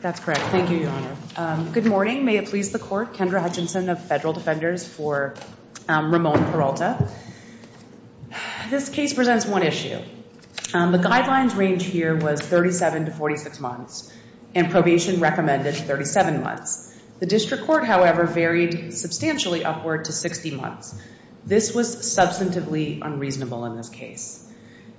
That's correct. Thank you, Your Honor. Good morning. May it please the Court. Kendra Hutchinson of Federal Defenders for Ramon Peralta. This case presents one issue. The guidelines range here was 37 to 46 months and probation recommended 37 months. The district court, however, varied substantially upward to 60 months. This was substantively unreasonable in this case.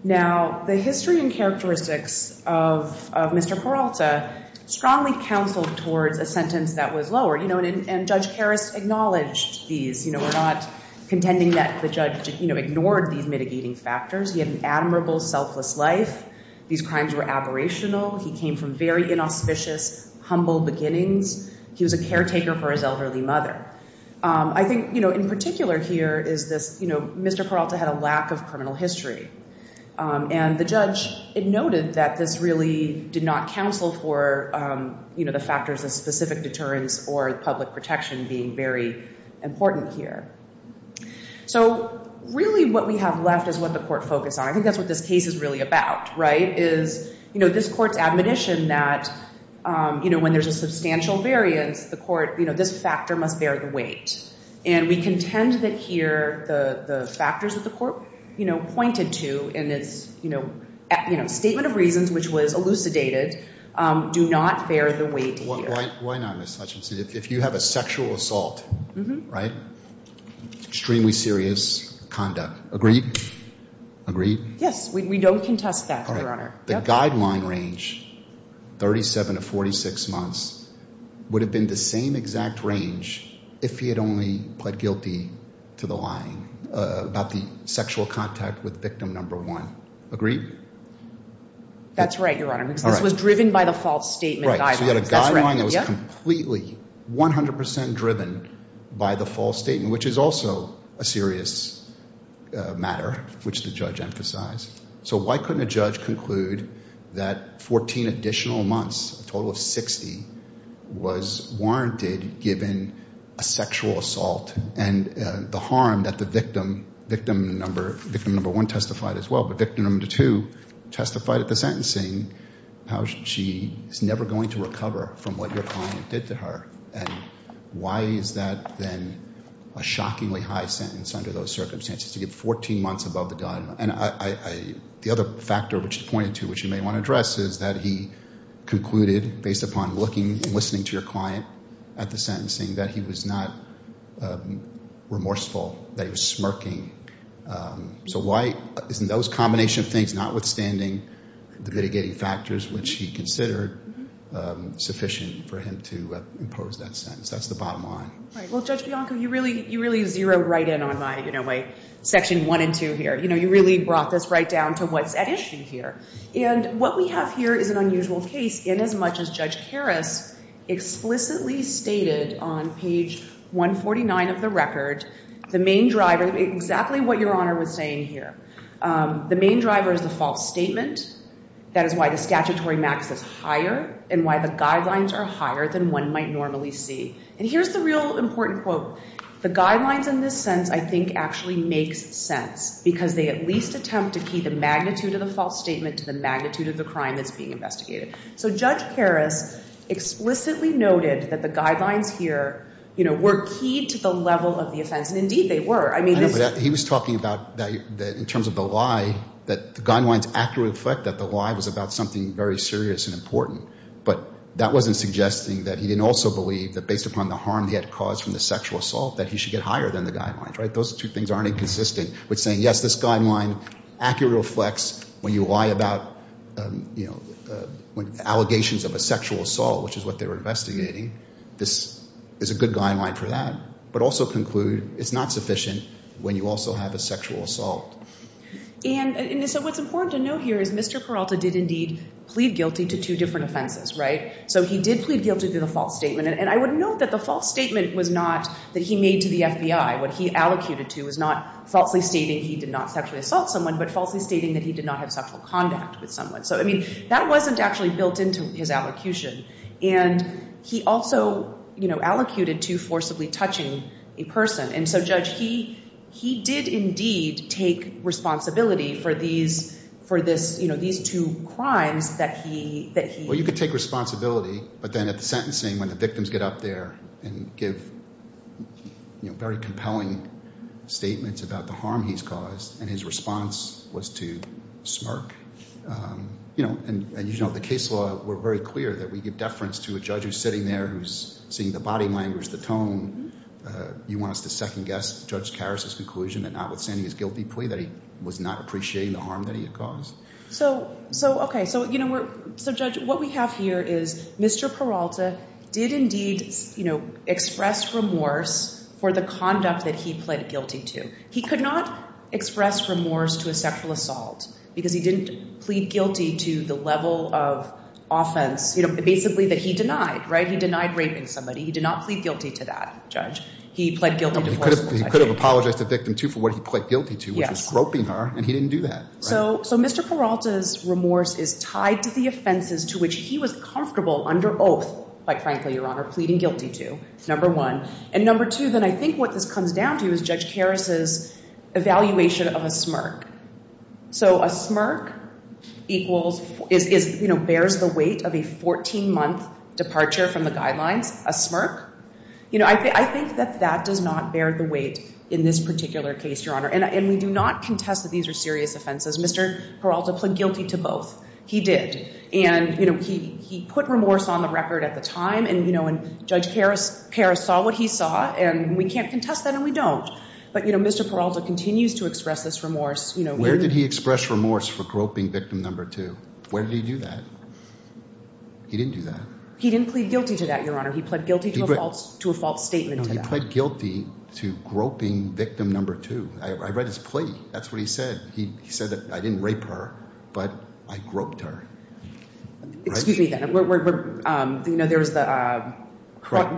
Now, the history and characteristics of Mr. Peralta strongly counseled towards a sentence that was lower. And Judge Harris acknowledged these. We're not contending that the judge ignored these mitigating factors. He had an admirable, selfless life. These crimes were aberrational. He came from very inauspicious, humble beginnings. He was a caretaker for his elderly mother. I think, you know, in particular here is this, you know, Mr. Peralta had a lack of criminal history. And the judge noted that this really did not counsel for, you know, the factors of specific deterrence or public protection being very important here. So really what we have left is what the court focused on. I think that's what this case is really about, right? Is, you know, this court's admonition that, you know, when there's a substantial variance, the court, you know, this factor must bear the weight. And we contend that here the factors that the court, you know, pointed to in its, you know, statement of reasons, which was elucidated, do not bear the weight here. Why not, Ms. Hutchinson, if you have a sexual assault, right? Extremely serious conduct. Agreed? Agreed? Yes. We don't contest that, Your Honor. The guideline range, 37 to 46 months, would have been the same exact range if he had only pled guilty to the lying about the sexual contact with victim number one. Agreed? That's right, Your Honor, because this was driven by the false statement guidelines. We had a guideline that was completely, 100 percent driven by the false statement, which is also a serious matter, which the judge emphasized. So why couldn't a judge conclude that 14 additional months, a total of 60, was warranted given a sexual assault and the harm that the victim, victim number one testified as well, but victim number two testified at the sentencing, how she is never going to recover from what your client did to her? And why is that then a shockingly high sentence under those circumstances to get 14 months above the guideline? And the other factor, which you pointed to, which you may want to address, is that he concluded, based upon looking and listening to your client at the sentencing, that he was not remorseful, that he was smirking. So why isn't those combination of things, notwithstanding the mitigating factors which he considered sufficient for him to impose that sentence? That's the bottom line. Well, Judge Bianco, you really zeroed right in on my section one and two here. You really brought this right down to what's at issue here. And what we have here is an unusual case inasmuch as Judge Harris explicitly stated on page 149 of the record, the main driver, exactly what Your Honor was saying here. The main driver is the false statement. That is why the statutory max is higher and why the guidelines are higher than one might normally see. And here's the real important quote. The guidelines in this sense, I think, actually makes sense because they at least attempt to key the magnitude of the false statement to the magnitude of the crime that's being investigated. So Judge Harris explicitly noted that the guidelines here, you know, were keyed to the level of the offense. And, indeed, they were. I mean, this — No, but he was talking about that in terms of the lie, that the guidelines accurately reflect that the lie was about something very serious and important. But that wasn't suggesting that he didn't also believe that based upon the harm he had caused from the sexual assault that he should get higher than the guidelines, right? Those two things aren't inconsistent with saying, yes, this guideline accurately reflects when you lie about, you know, allegations of a sexual assault, which is what they were investigating. This is a good guideline for that, but also conclude it's not sufficient when you also have a sexual assault. And so what's important to note here is Mr. Peralta did, indeed, plead guilty to two different offenses, right? So he did plead guilty to the false statement. And I would note that the false statement was not that he made to the FBI. What he allocated to was not falsely stating he did not sexually assault someone, but falsely stating that he did not have sexual contact with someone. So, I mean, that wasn't actually built into his allocution. And he also, you know, allocated to forcibly touching a person. And so, Judge, he did, indeed, take responsibility for these for this, you know, these two crimes that he. Well, you could take responsibility. But then at the sentencing, when the victims get up there and give very compelling statements about the harm he's caused and his response was to smirk, you know, and, you know, the case law, we're very clear that we give deference to a judge who's sitting there who's seeing the body language, the tone. You want us to second guess Judge Karras' conclusion that notwithstanding his guilty plea that he was not appreciating the harm that he had caused? So, okay. So, you know, we're. So, Judge, what we have here is Mr. Peralta did, indeed, you know, express remorse for the conduct that he pleaded guilty to. He could not express remorse to a sexual assault because he didn't plead guilty to the level of offense, you know, basically that he denied, right? He denied raping somebody. He did not plead guilty to that, Judge. He pled guilty to forceful sexual assault. He could have apologized to the victim, too, for what he pled guilty to, which was groping her, and he didn't do that. So Mr. Peralta's remorse is tied to the offenses to which he was comfortable under oath, quite frankly, Your Honor, pleading guilty to, number one. And number two, then I think what this comes down to is Judge Karras' evaluation of a smirk. So a smirk equals, is, you know, bears the weight of a 14-month departure from the guidelines, a smirk. You know, I think that that does not bear the weight in this particular case, Your Honor. And we do not contest that these are serious offenses. Mr. Peralta pled guilty to both. He did. And, you know, he put remorse on the record at the time, and, you know, and Judge Karras saw what he saw, and we can't contest that, and we don't. But, you know, Mr. Peralta continues to express this remorse. Where did he express remorse for groping victim number two? Where did he do that? He didn't do that. He didn't plead guilty to that, Your Honor. He pled guilty to a false statement. He pled guilty to groping victim number two. I read his plea. That's what he said. He said that I didn't rape her, but I groped her. Excuse me, then. The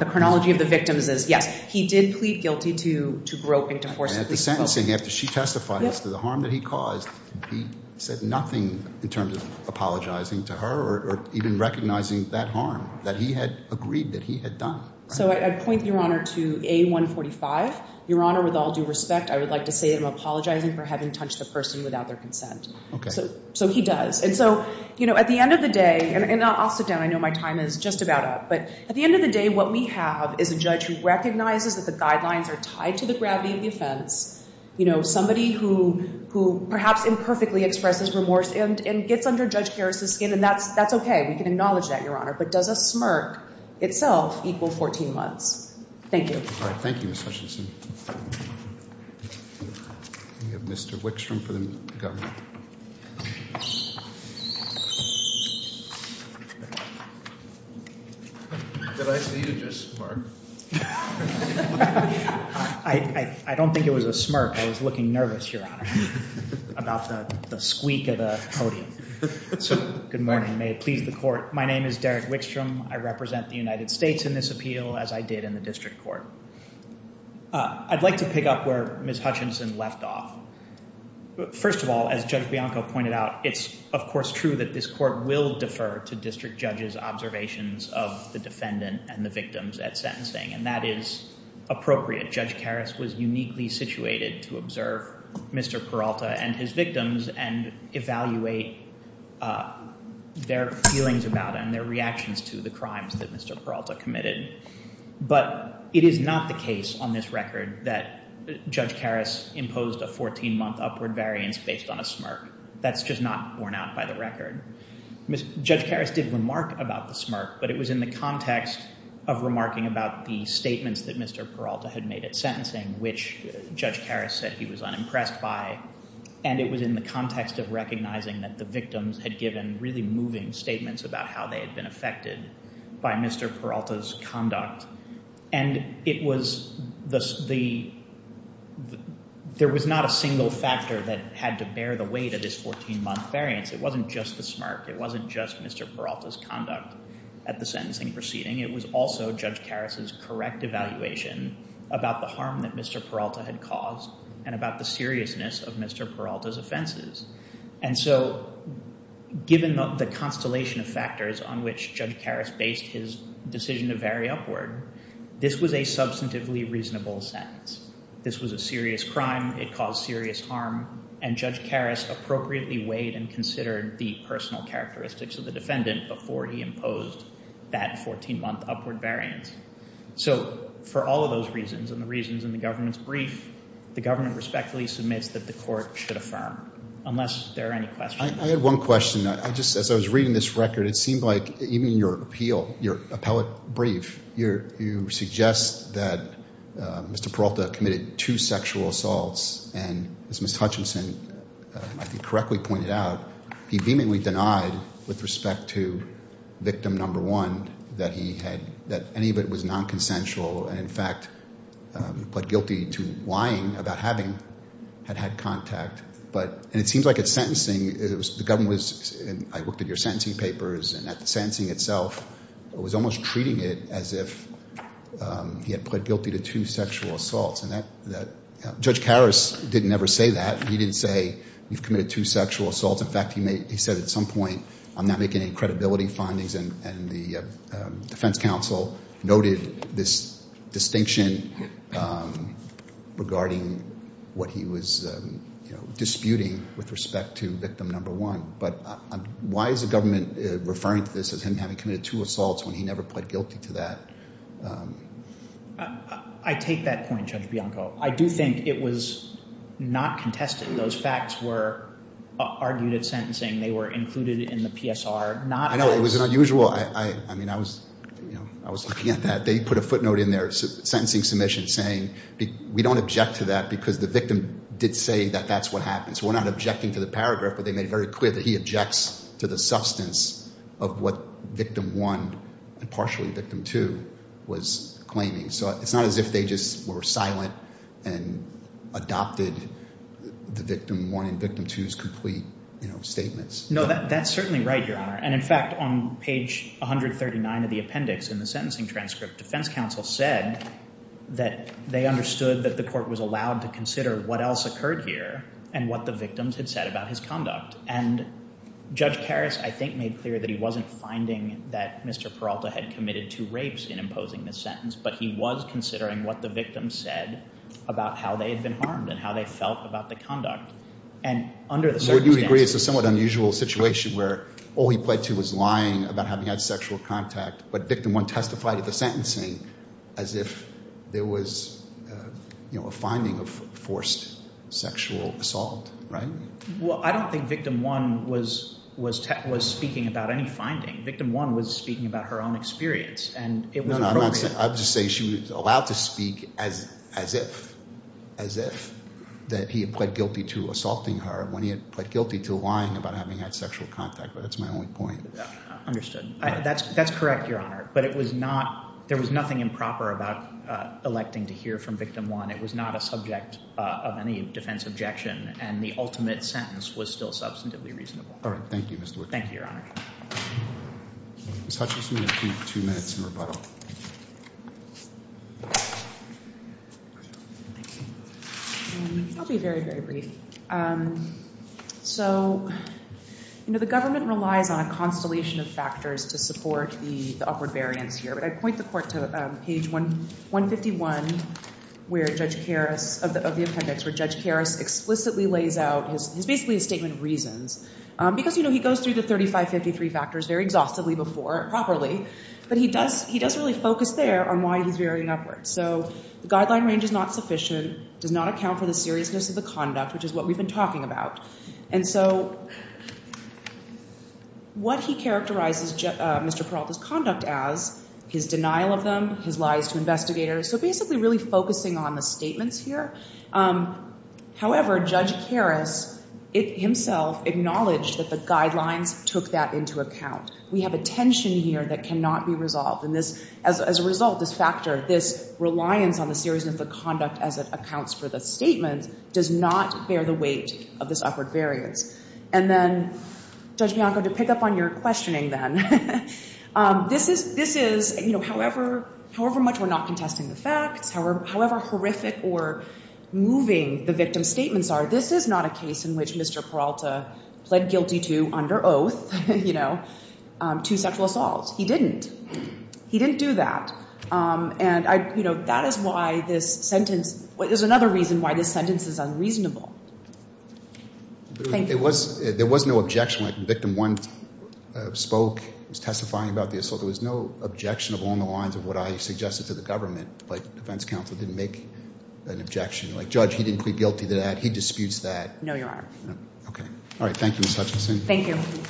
chronology of the victims is, yes, he did plead guilty to groping, to forcefully assault. And at the sentencing, after she testified as to the harm that he caused, he said nothing in terms of apologizing to her or even recognizing that harm that he had agreed that he had done. So I'd point, Your Honor, to A145. Your Honor, with all due respect, I would like to say that I'm apologizing for having touched the person without their consent. Okay. So he does. And so, you know, at the end of the day, and I'll sit down. I know my time is just about up. But at the end of the day, what we have is a judge who recognizes that the guidelines are tied to the gravity of the offense. You know, somebody who perhaps imperfectly expresses remorse and gets under Judge Garris' skin, and that's okay. We can acknowledge that, Your Honor. But does a smirk itself equal 14 months? Thank you. All right. Thank you, Ms. Hutchinson. We have Mr. Wickstrom for the government. Did I see you just smirk? I don't think it was a smirk. I was looking nervous, Your Honor, about the squeak of the podium. So good morning. May it please the court. My name is Derek Wickstrom. I represent the United States in this appeal, as I did in the district court. I'd like to pick up where Ms. Hutchinson left off. First of all, as Judge Bianco pointed out, it's, of course, true that this court will defer to district judges' observations of the defendant and the victims at sentencing. And that is appropriate. Judge Garris was uniquely situated to observe Mr. Peralta and his victims and evaluate their feelings about and their reactions to the crimes that Mr. Peralta committed. But it is not the case on this record that Judge Garris imposed a 14-month upward variance based on a smirk. That's just not borne out by the record. Judge Garris did remark about the smirk, but it was in the context of remarking about the statements that Mr. Peralta had made at sentencing, which Judge Garris said he was unimpressed by. And it was in the context of recognizing that the victims had given really moving statements about how they had been affected by Mr. Peralta's conduct. And it was the—there was not a single factor that had to bear the weight of this 14-month variance. It wasn't just the smirk. It wasn't just Mr. Peralta's conduct at the sentencing proceeding. It was also Judge Garris's correct evaluation about the harm that Mr. Peralta had caused and about the seriousness of Mr. Peralta's offenses. And so given the constellation of factors on which Judge Garris based his decision to vary upward, this was a substantively reasonable sentence. This was a serious crime. It caused serious harm. And Judge Garris appropriately weighed and considered the personal characteristics of the defendant before he imposed that 14-month upward variance. So for all of those reasons and the reasons in the government's brief, the government respectfully submits that the court should affirm, unless there are any questions. I had one question. I just—as I was reading this record, it seemed like even in your appeal, your appellate brief, you suggest that Mr. Peralta committed two sexual assaults. And as Ms. Hutchinson, I think, correctly pointed out, he beamingly denied with respect to victim number one that he had—that any of it was nonconsensual. And, in fact, pled guilty to lying about having had had contact. But—and it seems like at sentencing, it was—the government was—and I looked at your sentencing papers and at the sentencing itself, it was almost treating it as if he had pled guilty to two sexual assaults. And that—Judge Garris didn't ever say that. He didn't say, you've committed two sexual assaults. In fact, he said at some point, I'm not making any credibility findings. And the defense counsel noted this distinction regarding what he was disputing with respect to victim number one. But why is the government referring to this as him having committed two assaults when he never pled guilty to that? I take that point, Judge Bianco. I do think it was not contested. Those facts were argued at sentencing. They were included in the PSR. I know it was unusual. I mean, I was looking at that. They put a footnote in their sentencing submission saying we don't object to that because the victim did say that that's what happened. So we're not objecting to the paragraph, but they made it very clear that he objects to the substance of what victim one and partially victim two was claiming. So it's not as if they just were silent and adopted the victim one and victim two's complete statements. No, that's certainly right, Your Honor. And, in fact, on page 139 of the appendix in the sentencing transcript, defense counsel said that they understood that the court was allowed to consider what else occurred here and what the victims had said about his conduct. And Judge Karras, I think, made clear that he wasn't finding that Mr. Peralta had committed two rapes in imposing this sentence, but he was considering what the victim said about how they had been harmed and how they felt about the conduct. And under the circumstances— So you agree it's a somewhat unusual situation where all he pled to was lying about having had sexual contact, but victim one testified at the sentencing as if there was a finding of forced sexual assault, right? Well, I don't think victim one was speaking about any finding. Victim one was speaking about her own experience, and it was appropriate. I'm just saying she was allowed to speak as if, as if, that he had pled guilty to assaulting her when he had pled guilty to lying about having had sexual contact. But that's my only point. Understood. That's correct, Your Honor. But it was not—there was nothing improper about electing to hear from victim one. It was not a subject of any defense objection, and the ultimate sentence was still substantively reasonable. All right. Thank you, Mr. Woodcock. Thank you, Your Honor. Ms. Hutchison, you have two minutes in rebuttal. Thank you. I'll be very, very brief. So, you know, the government relies on a constellation of factors to support the upward variance here. But I'd point the court to page 151 of the appendix where Judge Karras explicitly lays out his—basically his statement of reasons. Because, you know, he goes through the 3553 factors very exhaustively before properly, but he does really focus there on why he's varying upwards. So the guideline range is not sufficient, does not account for the seriousness of the conduct, which is what we've been talking about. And so what he characterizes Mr. Peralta's conduct as, his denial of them, his lies to investigators, so basically really focusing on the statements here. However, Judge Karras himself acknowledged that the guidelines took that into account. We have a tension here that cannot be resolved. And this, as a result, this factor, this reliance on the seriousness of the conduct as it accounts for the statement does not bear the weight of this upward variance. And then, Judge Bianco, to pick up on your questioning then, this is, you know, however much we're not contesting the facts, however horrific or moving the victim's statements are, this is not a case in which Mr. Peralta pled guilty to under oath, you know, to sexual assault. He didn't. He didn't do that. And, you know, that is why this sentence, there's another reason why this sentence is unreasonable. Thank you. There was no objection when victim one spoke, was testifying about the assault. There was no objection along the lines of what I suggested to the government, but defense counsel didn't make an objection. Like, Judge, he didn't plead guilty to that. He disputes that. No, Your Honor. Okay. All right. Thank you, Ms. Hutchinson. Thank you.